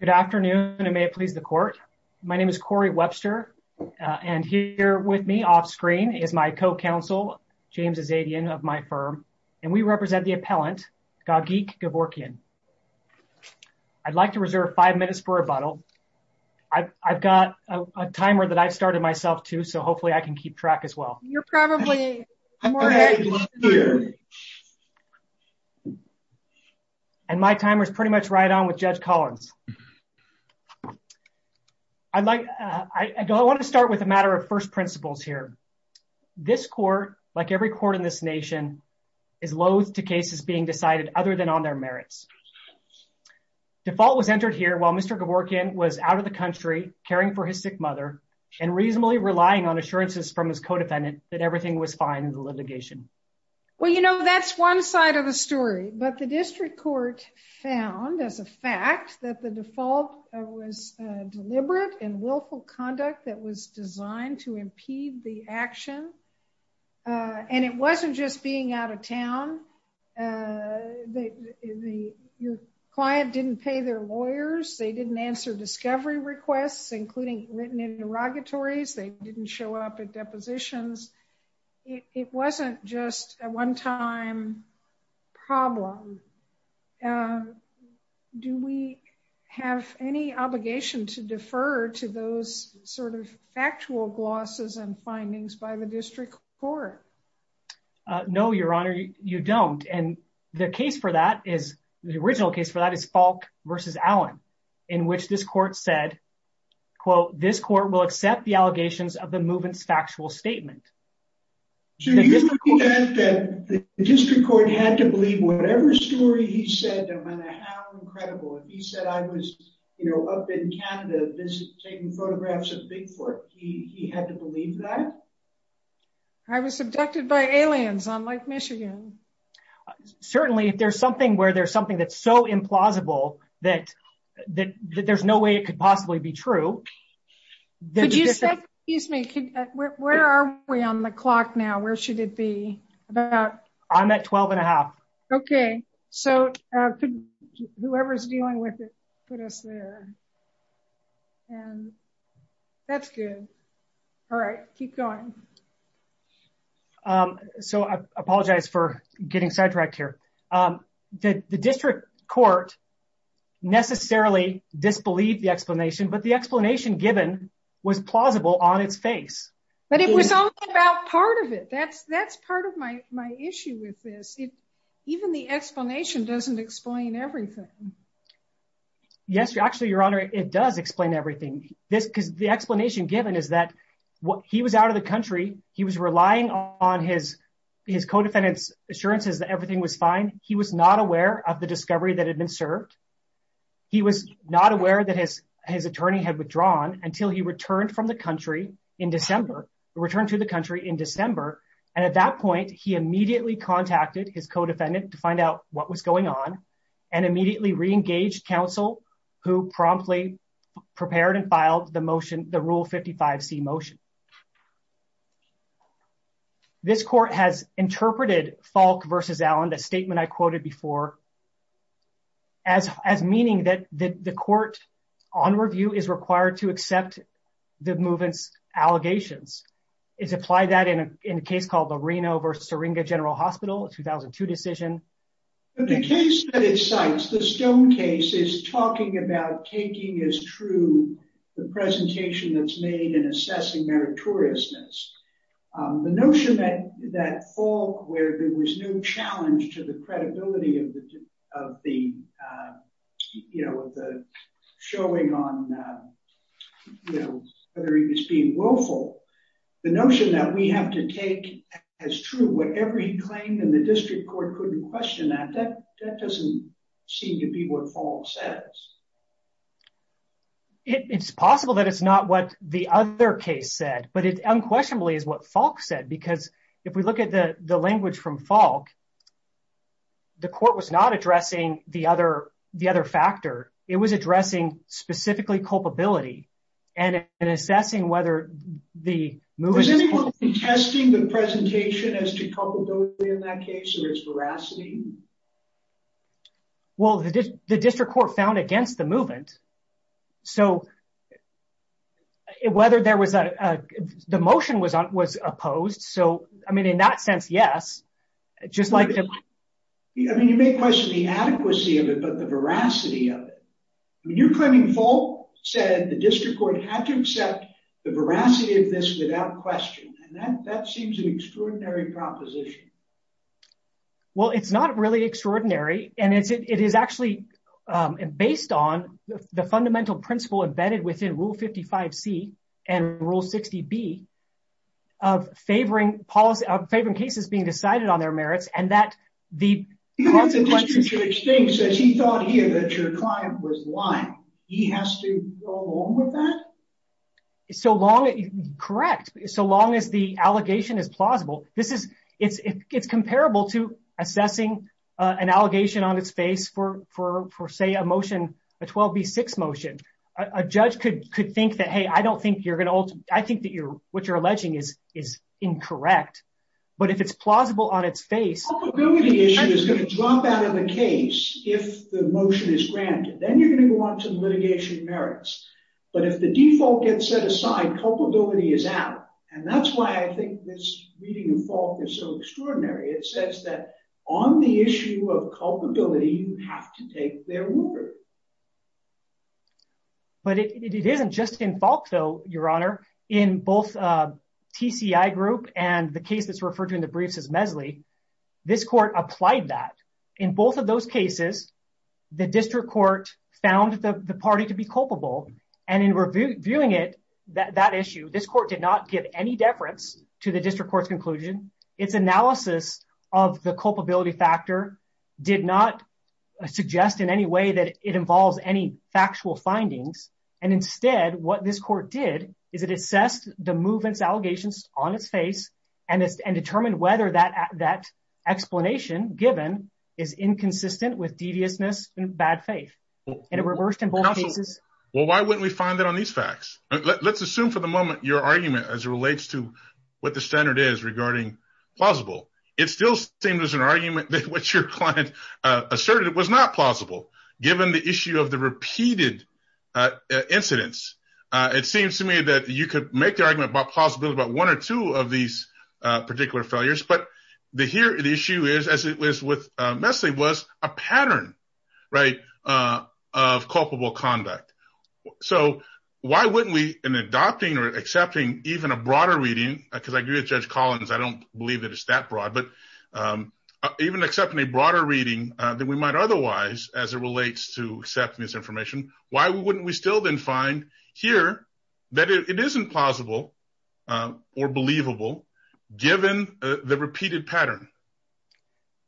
Good afternoon and may it please the court. My name is Corey Webster and here with me off screen is my co-counsel James Azadian of my firm and we represent the appellant Gagik Gevorkyan. I'd like to reserve five minutes for rebuttal. I've got a timer that I've started myself too so hopefully I can keep track as well. You're probably And my timer is pretty much right on with Judge Collins. I'd like, I want to start with a matter of first principles here. This court, like every court in this nation, is loathed to cases being decided other than on their merits. Default was entered here while Mr. Gevorkyan was out of the country caring for his sick mother and reasonably relying on assurances from his codefendant that everything was fine in the litigation. Well, you know, that's one side of the story, but the district court found, as a fact, that the default was deliberate and willful conduct that was designed to impede the action. And it wasn't just being out of town. Your client didn't pay their lawyers, they didn't answer discovery requests, including written interrogatories, they didn't show up at depositions. It wasn't just a one-time problem. Do we have any obligation to defer to those sort of factual glosses and findings by the district court? No, Your Honor, you don't. And the case for that is, the original case for that is Falk versus Allen, in which this court said, quote, this court will accept the allegations of the movement's factual statement. So you think that the district court had to believe whatever story he said, no matter how incredible, if he said I was, you know, up in Canada taking photographs of Bigfoot, he had to believe that? I was abducted by aliens on Lake Michigan. Certainly, if there's something where there's something that's so implausible, that there's no way it could possibly be true. Could you say, excuse me, where are we on the clock now? Where should it be? I'm at 12 and a half. Okay, so whoever's dealing with it, put us there. And that's good. All right, keep going. Okay. So I apologize for getting sidetracked here. The district court necessarily disbelieved the explanation, but the explanation given was plausible on its face. But it was only about part of it. That's part of my issue with this. Even the explanation doesn't explain everything. Yes, actually, Your Honor, it does explain everything. The explanation given is that he was out of the country, he was relying on his co-defendant's assurances that everything was fine. He was not aware of the discovery that had been served. He was not aware that his attorney had withdrawn until he returned from the country in December, returned to the country in December. And at that point, he immediately contacted his co-defendant to find out what was going on, and immediately re-engaged counsel, who promptly prepared and filed the motion, the Rule 55C motion. This court has interpreted Falk v. Allen, the statement I quoted before, as meaning that the court on review is required to accept the movement's allegations. It's applied that in a case called the Reno v. Syringa General Hospital, a 2002 decision. In the case that it cites, the Stone case is talking about taking as true the presentation that's made in assessing meritoriousness. The notion that Falk, where there was no challenge to the credibility of the showing on whether he was being willful, the notion that we have to take as true whatever he claimed and the district court couldn't question that, that doesn't seem to be what Falk says. It's possible that it's not what the other case said, but it unquestionably is what Falk said, because if we look at the language from Falk, the court was not addressing the other factor. It was addressing specifically culpability and assessing whether the movement... Is anyone contesting the presentation as to culpability in that case or its veracity? Well, the district court found against the movement, so whether the motion was opposed, I mean, in that sense, yes, just like... I mean, you may question the adequacy of it, but the veracity of it. You're claiming Falk said the district court had to accept the veracity of this without question, and that seems an extraordinary proposition. Well, it's not really extraordinary, and it is actually based on the fundamental principle embedded within Rule 55C and Rule 60B of favoring cases being decided on their merits, and that the consequences... Even if the district judge thinks that he thought here that your client was lying, he has to go along with that? Correct, so long as the allegation is plausible. It's comparable to assessing an allegation on its face for, say, a motion, a 12B6 motion. A judge could think that, hey, I don't think you're going to... I think that what you're alleging is incorrect, but if it's plausible on its face... The culpability issue is going to drop out of the case if the motion is granted. Then you're going to go on to litigation merits, but if the default gets set aside, culpability is out, and that's why I think this reading of Falk is so extraordinary. It says that on the issue of culpability, you have to take their word. But it isn't just in Falk, though, Your Honor. In both TCI group and the case that's referred to in the briefs as MESLI, this court applied that. In both of those cases, the district court found the party to be culpable, and in reviewing it, that issue, this court did not give any deference to the district court's conclusion. Its analysis of the culpability factor did not suggest in any way that it involves any factual findings. Instead, what this court did is it determined whether that explanation given is inconsistent with deviousness and bad faith. Well, why wouldn't we find that on these facts? Let's assume for the moment your argument as it relates to what the standard is regarding plausible. It still seems as an argument that what your client asserted was not plausible, given the issue of the repeated incidents. It seems to me that you could make the argument about plausibility about one or two of these particular failures. But the issue is, as it was with MESLI, was a pattern of culpable conduct. So why wouldn't we, in adopting or accepting even a broader reading, because I agree with Judge Collins, I don't believe that it's that broad, but even accepting a broader reading than we might otherwise as it relates to accepting this information, why wouldn't we still then find here that it isn't plausible or believable, given the repeated pattern?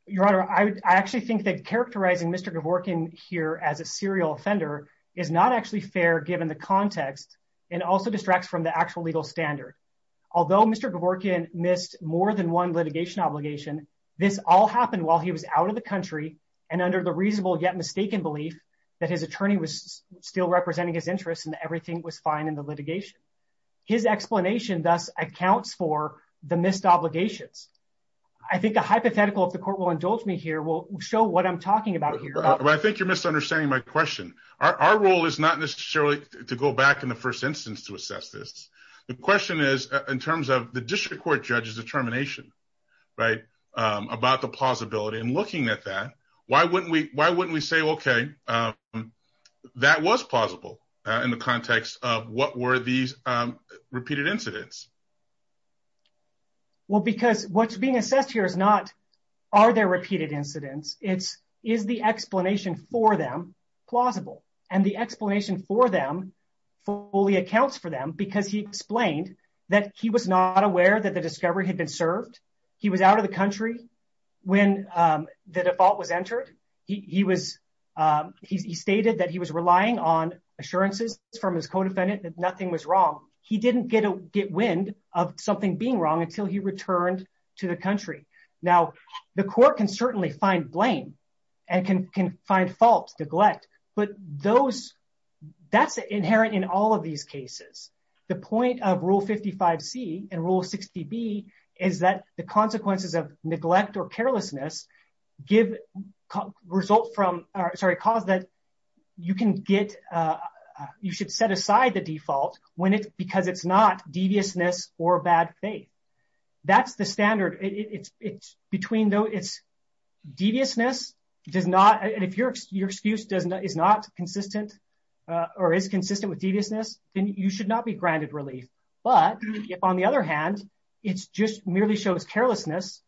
Your Honor, I actually think that characterizing Mr. Gavorkian here as a serial offender is not actually fair given the context and also distracts from the actual legal standard. Although Mr. Gavorkian missed more than one litigation obligation, this all happened while he was out of the country and under the reasonable yet mistaken belief that his attorney was still representing his interests and everything was fine in the litigation. His explanation thus accounts for the missed obligations. I think a hypothetical, if the court will indulge me here, will show what I'm talking about here. I think you're misunderstanding my question. Our role is not necessarily to go back in the first instance to assess this. The question is, in terms of the district court judge's determination, right, about the plausibility and looking at that, why wouldn't we say, okay, that was plausible in the context of what were these repeated incidents? Well, because what's being assessed here is not, are there repeated incidents? It's, is the explanation for them plausible? And the explanation for them fully accounts for them because he explained that he was not aware that the discovery had been served. He was out of the country when the default was entered. He was, he stated that he was relying on assurances from his co-defendant that nothing was wrong. He didn't get wind of something being wrong until he returned to the country. Now, the court can certainly find blame and can find faults, neglect, but those, that's inherent in all of these cases. The point of Rule 55C and Rule 60B is that the consequences of neglect or carelessness give result from, or sorry, cause that you can get, you should set aside the default when it's, because it's not deviousness or bad faith. That's the standard. It's between those, it's deviousness does not, and if your excuse does not, is not consistent or is consistent with deviousness, then you should not be granted relief. But if on the other hand, it's just merely shows carelessness,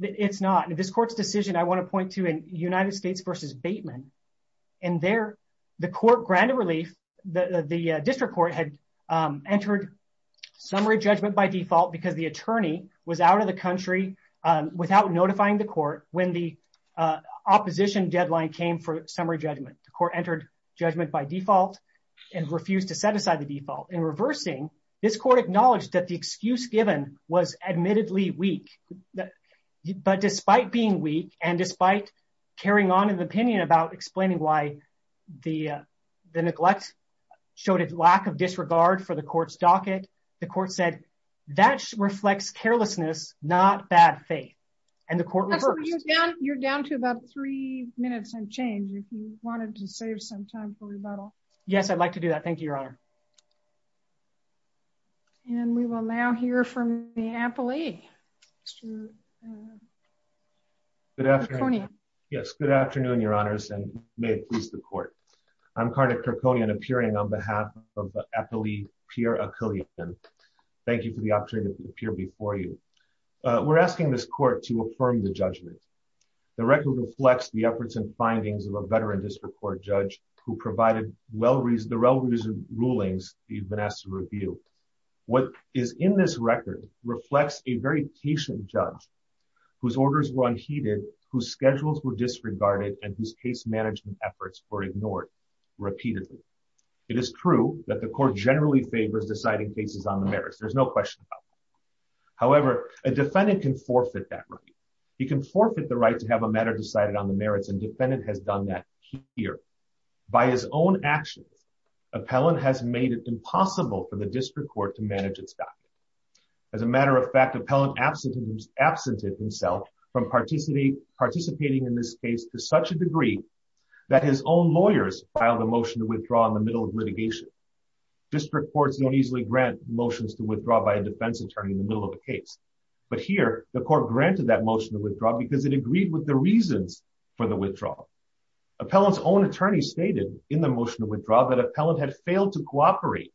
it's not. And this court's decision, I want to point to in United States versus Bateman, and there the court granted relief, the district court had entered summary judgment by default because the attorney was out of the country without notifying the court when the opposition deadline came for summary judgment. The court entered judgment by default and refused to set aside the default. In reversing, this court acknowledged that the excuse given was admittedly weak, but despite being weak and despite carrying on in the opinion about explaining why the neglect showed a lack of disregard for the court's docket, the court said that reflects carelessness, not bad faith. And the court reversed. You're down to about three minutes and change if you wanted to save some time for rebuttal. Yes, I'd like to do that. Thank you, Your Honor. And we will now hear from the appellee. Good afternoon. Yes, good afternoon, Your Honors, and may it please the court. I'm Cardiff Kirkconian appearing on behalf of the appellee, Pierre Achillean. Thank you for the opportunity to appear before you. We're asking this court to affirm the judgment. The record reflects the efforts and findings of a veteran district court judge who provided the relevant rulings that you've been asked to review. What is in this record reflects a very patient judge whose orders were unheeded, whose schedules were disregarded, and whose case management efforts were ignored repeatedly. It is true that the court generally favors deciding cases on the merits. There's no question about that. However, a defendant can forfeit that right. He can forfeit the right to have a matter decided on the merits, and defendant has done that here. By his own actions, appellant has made it impossible for the district court to manage its documents. As a matter of fact, appellant absented himself from participating in this case to such a degree that his own lawyers filed a motion to withdraw in the middle of litigation. District courts don't easily grant motions to withdraw by a defense attorney in the middle of a case. But here, the court granted that motion to withdraw because it agreed with the reasons for the withdrawal. Appellant's own attorney stated in the motion to withdraw that appellant had failed to cooperate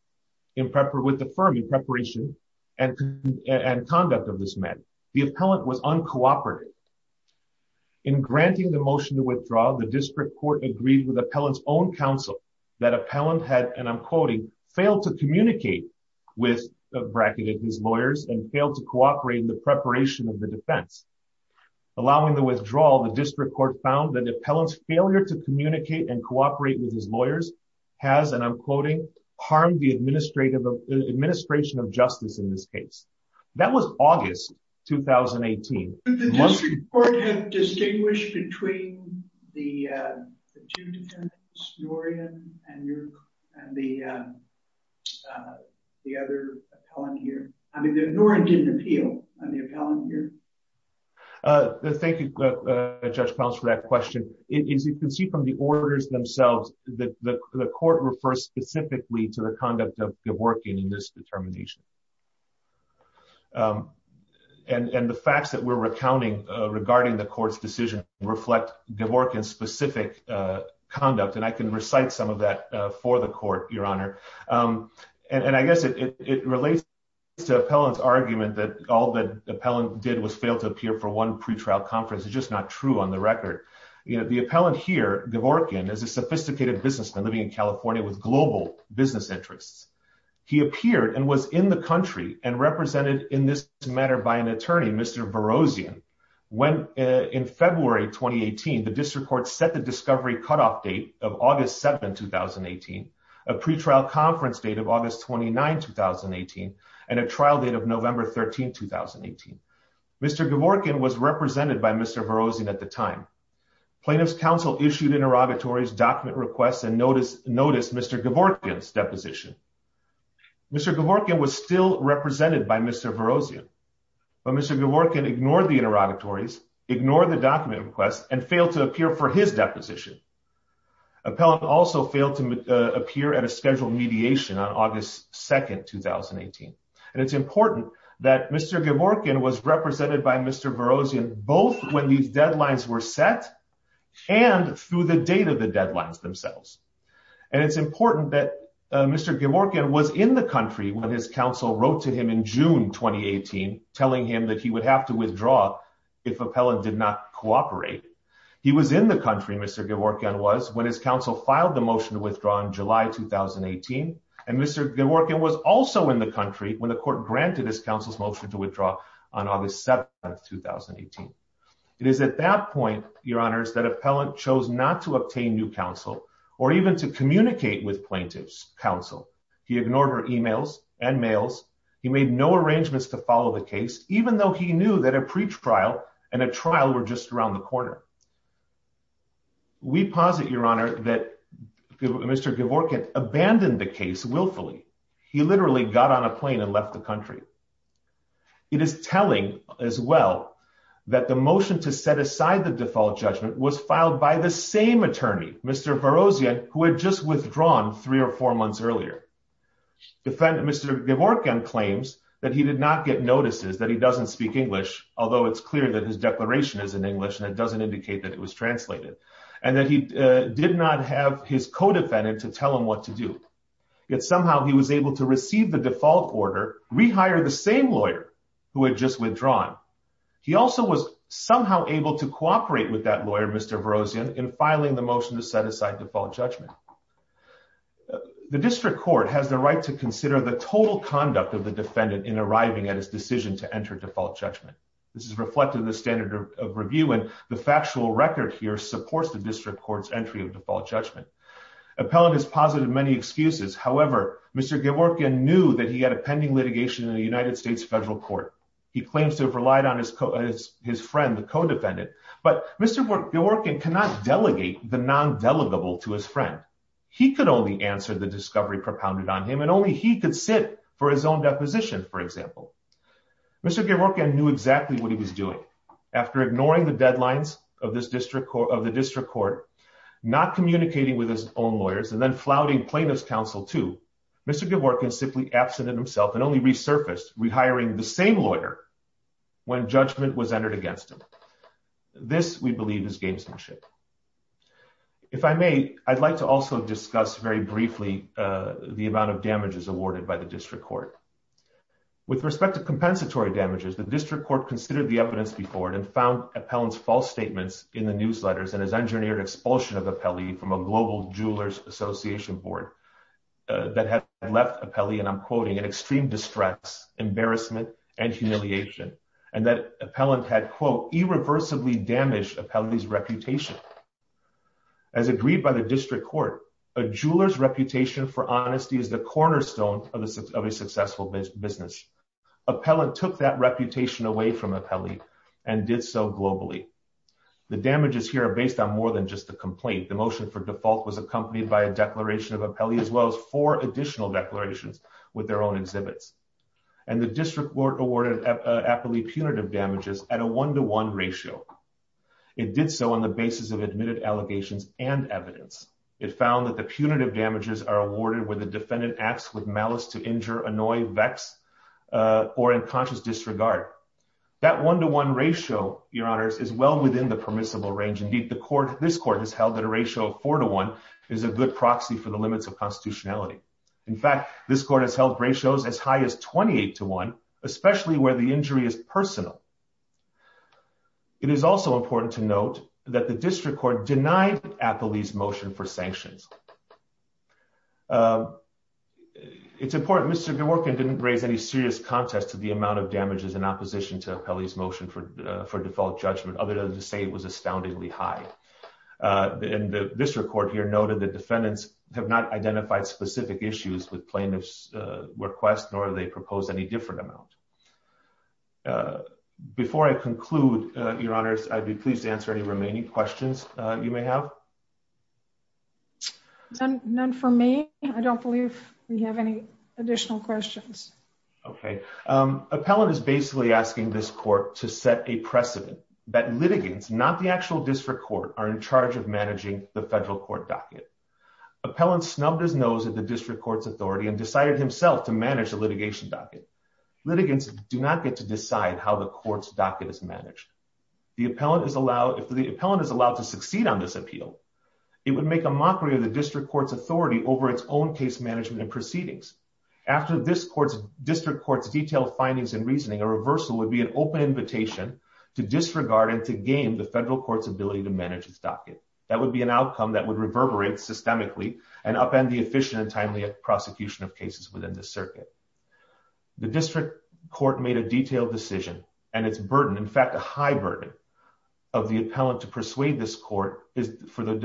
with the firm in preparation and conduct of this matter. The appellant was uncooperative. In granting the motion to withdraw, the district court agreed with appellant's own counsel that appellant had, I'm quoting, failed to communicate with, bracketed his lawyers, and failed to cooperate in the preparation of the defense. Allowing the withdrawal, the district court found that appellant's failure to communicate and cooperate with his lawyers has, and I'm quoting, harmed the administration of justice in this case. That was August 2018. Did the district court have distinguished between the two defendants, Norian and the other appellant here? I mean, Norian didn't appeal on the appellant here. Thank you, Judge Collins, for that question. As you can see from the orders themselves, the court refers specifically to the conduct of Gavorkian in this determination. And the facts that we're recounting regarding the court's decision reflect Gavorkian's specific conduct. And I can recite some of that for the court, Your Honor. And I guess it relates to appellant's argument that all that appellant did was fail to appear for one pretrial conference. It's just not true on the record. The appellant here, Gavorkian, is a sophisticated businessman living in California with global business interests. He appeared and was in the country and represented in this matter by an attorney, Mr. Vorosian, when in February 2018, the district court set the discovery cutoff date of August 7, 2018, a pretrial conference date of August 29, 2018, and a trial date of November 13, 2018. Mr. Gavorkian was represented by Mr. Vorosian at the time. Plaintiff's counsel issued interrogatories, document requests, and noticed Mr. Gavorkian's deposition. Mr. Gavorkian was still represented by Mr. Vorosian, but Mr. Gavorkian ignored the interrogatories, ignored the document requests, and failed to appear for his deposition. Appellant also failed to appear at a scheduled mediation on August 2, 2018. And it's important that Mr. Gavorkian was represented by Mr. Vorosian both when these deadlines were set and through the date of the deadlines themselves. And it's important that Mr. Gavorkian was in the country when his counsel wrote to him in June 2018, telling him that he would have to withdraw if Appellant did not cooperate. He was in the country, Mr. Gavorkian was, when his counsel filed the motion to withdraw in July 2018. And Mr. Gavorkian was also in the country when the court granted his counsel's motion to withdraw on August 7, 2018. It is at that point, Your Honors, that Appellant chose not to obtain new counsel or even to communicate with plaintiff's counsel. He ignored our emails and mails. He made no arrangements to follow the case, even though he knew that a pretrial and a trial were just around the corner. We posit, Your Honor, that Mr. Gavorkian abandoned the case willfully. He literally got on a plane and left the country. It is telling as well that the motion to set aside the default judgment was filed by the same attorney, Mr. Vorosian, who had just withdrawn three or four months earlier. Mr. Gavorkian claims that he did not get notices, that he doesn't speak English, although it's clear that his declaration is in English and it doesn't indicate that it was translated, and that he did not have his co-defendant to tell him what to do. Yet somehow he was able to receive the default order, rehire the same lawyer who had just withdrawn. He also was somehow able to cooperate with that lawyer, Mr. Vorosian, in filing the motion to set aside default judgment. The District Court has the right to consider the total conduct of the defendant in arriving at his decision to enter default judgment. This is reflected in the standard of review and the factual record here supports the District Court's entry of default judgment. Appellant has posited many excuses. However, Mr. Gavorkian knew that he had a pending litigation in the United States federal court. He claims to have relied on his friend, the co-defendant, but Mr. Gavorkian cannot delegate the non-delegable to his friend. He could only answer the discovery propounded on him and only he could sit for his own deposition, for example. Mr. Gavorkian knew exactly what he was doing. After ignoring the deadlines of the District Court, not communicating with his own lawyers, and then flouting plaintiff's counsel too, Mr. Gavorkian simply absented himself and only resurfaced, rehiring the same lawyer when judgment was entered against him. This, we believe, is gamesmanship. If I may, I'd like to also discuss very briefly the amount of damages awarded by the District Court. With respect to compensatory damages, the District Court considered the evidence before and found Appellant's false statements in the newsletters and has engineered expulsion of Appellee from a Global Jewelers Association Board that had left Appellee, and I'm quoting, in extreme distress, embarrassment, and humiliation, and that Appellant had, quote, irreversibly damaged Appellee's reputation. As agreed by the District Court, a jeweler's reputation for honesty is the cornerstone of a successful business. Appellant took that so globally. The damages here are based on more than just the complaint. The motion for default was accompanied by a declaration of Appellee as well as four additional declarations with their own exhibits. And the District Court awarded Appellee punitive damages at a one-to-one ratio. It did so on the basis of admitted allegations and evidence. It found that the punitive damages are awarded when the defendant acts with malice to injure, annoy, vex, or in conscious disregard. That one-to-one ratio, Your Honors, is well within the permissible range. Indeed, the court, this court, has held that a ratio of four-to-one is a good proxy for the limits of constitutionality. In fact, this court has held ratios as high as 28-to-one, especially where the injury is personal. It is also important to note that the District Court denied Appellee's motion for sanctions. It's important, Mr. Gaworkin didn't raise any serious contest to the amount of damages in opposition to Appellee's motion for default judgment, other than to say it was astoundingly high. And the District Court here noted that defendants have not identified specific issues with plaintiff's request, nor have they proposed any different amount. Before I conclude, Your Honors, I'd be pleased to answer any remaining questions you may have. None for me. I don't believe we have any additional questions. Okay. Appellant is basically asking this court to set a precedent that litigants, not the actual District Court, are in charge of managing the federal court docket. Appellant snubbed his nose at the District Court's authority and decided himself to manage the litigation docket. Litigants do not get to decide how the court's docket is managed. If the appellant is allowed to succeed on this appeal, it would make a mockery of the case management and proceedings. After this District Court's detailed findings and reasoning, a reversal would be an open invitation to disregard and to game the federal court's ability to manage its docket. That would be an outcome that would reverberate systemically and upend the efficient and timely prosecution of cases within the circuit. The District Court made a detailed decision, and its burden, in fact a high burden, of the appellant to persuade this court is for the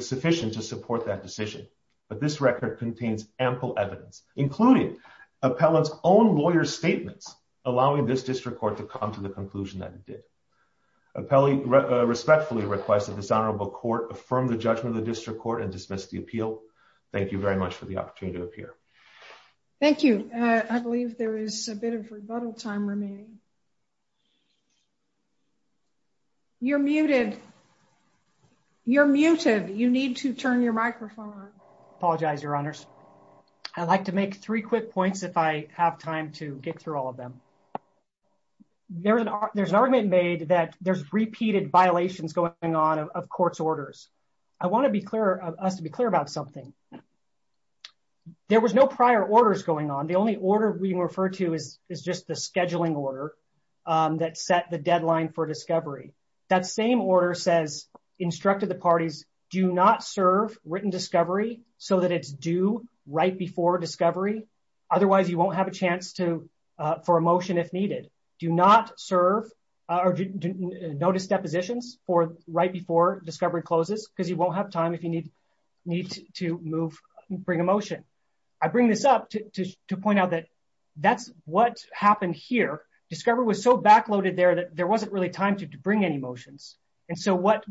sufficient to support that decision. But this record contains ample evidence, including appellant's own lawyer's statements, allowing this District Court to come to the conclusion that it did. I respectfully request that this honorable court affirm the judgment of the District Court and dismiss the appeal. Thank you very much for the opportunity to appear. Thank you. I believe there is a bit of rebuttal time remaining. You're muted. You're muted. You need to turn your microphone on. Apologize, Your Honors. I'd like to make three quick points if I have time to get through all of them. There's an argument made that there's repeated violations going on of court's orders. I want us to be clear about something. There was no prior orders going on. The only order we refer to is just the scheduling order that set the deadline for discovery. That same order says, instructed the parties, do not serve written discovery so that it's due right before discovery. Otherwise, you won't have a chance for a motion if needed. Do not serve or notice depositions right before discovery closes because you won't have time if you need to move and bring a motion. I bring this up to point out that that's what happened here. Discovery was so backloaded there that there wasn't really time to bring any motions. And so what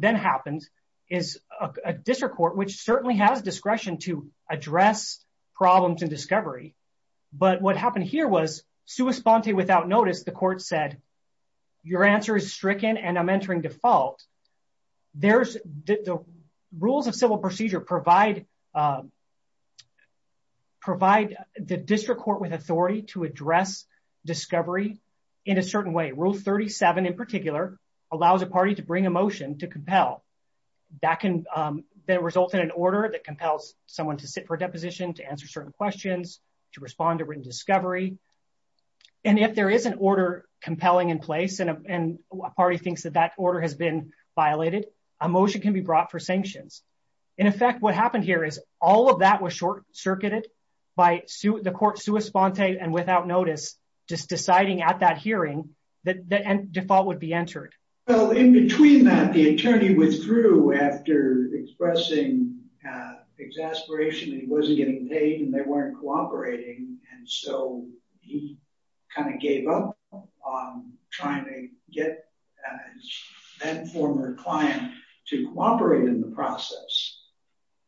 then happens is a District Court, which certainly has discretion to address problems in discovery, but what happened here was sua sponte without notice, the court said, your answer is stricken and I'm entering default. The rules of civil procedure provide the District Court with authority to address discovery in a certain way. Rule 37 in particular allows a party to bring a motion to compel. That can then result in an order that compels someone to sit for a deposition, to answer certain questions, to respond to written discovery. And if there is an order compelling in place and a party thinks that that order has been violated, a motion can be brought for sanctions. In effect, what happened here is all of that was short circuited by the court sua sponte and without notice, just deciding at that hearing that the default would be entered. Well, in between that, the attorney withdrew after expressing exasperation that he wasn't getting paid and they weren't cooperating. And so he kind of gave up on trying to get that former client to cooperate in the process.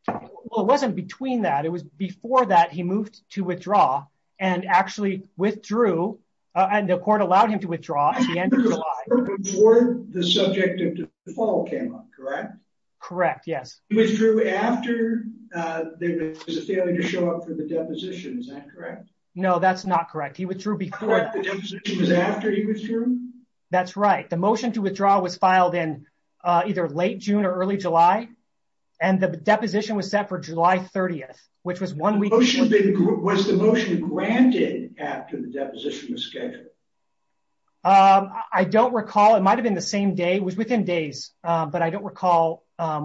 Well, it wasn't between that. It was before that he moved to withdraw and actually withdrew and the court allowed him to withdraw at the end of July. Before the subject of default came up, correct? Correct, yes. He withdrew after there was a failure to show up for the deposition, is that correct? No, that's not correct. He withdrew before. The deposition was after he withdrew? That's right. The motion to withdraw was filed in either late June or early July and the deposition was set for July 30th, which was one week. Was the motion granted after the deposition was scheduled? I don't recall. It might have been the same day. It was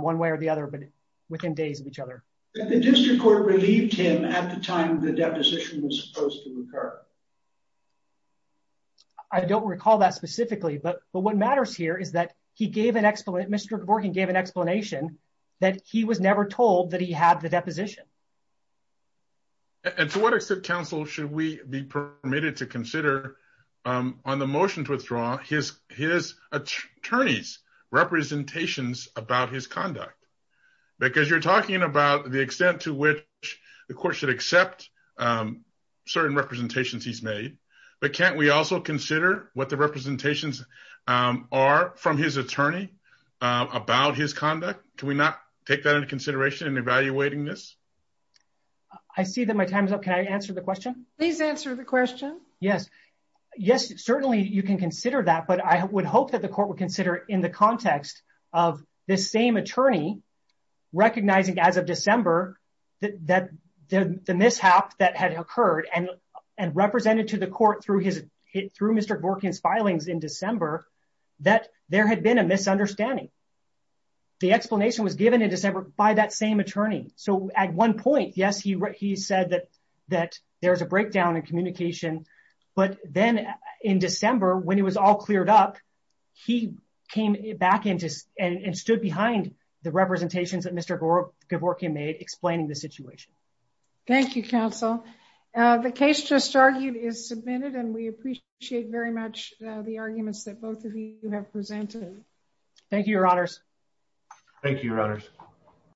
one way or the other, but within days of each other. The district court relieved him at the time the deposition was supposed to occur? I don't recall that specifically, but what matters here is that he gave an explanation. Mr. Borgen gave an explanation that he was never told that he had the deposition. And to what extent, counsel, should we be permitted to consider on the motion to withdraw his attorney's representations about his conduct? Because you're talking about the extent to which the court should accept certain representations he's made, but can't we also consider what the representations are from his attorney about his conduct? Can we not take that into consideration in evaluating this? I see that my time is up. Can I answer the question? Please answer the question. Yes, certainly you can consider that, but I would hope that the court would consider in the context of this same attorney recognizing as of December that the mishap that had occurred and represented to the court through Mr. Borgen's filings in December, that there had been a misunderstanding. The explanation was given in December by that same communication, but then in December when it was all cleared up, he came back and stood behind the representations that Mr. Borgen made explaining the situation. Thank you, counsel. The case just argued is submitted and we appreciate very much the arguments that both of you have presented. Thank you, your honors. Thank you, your honors.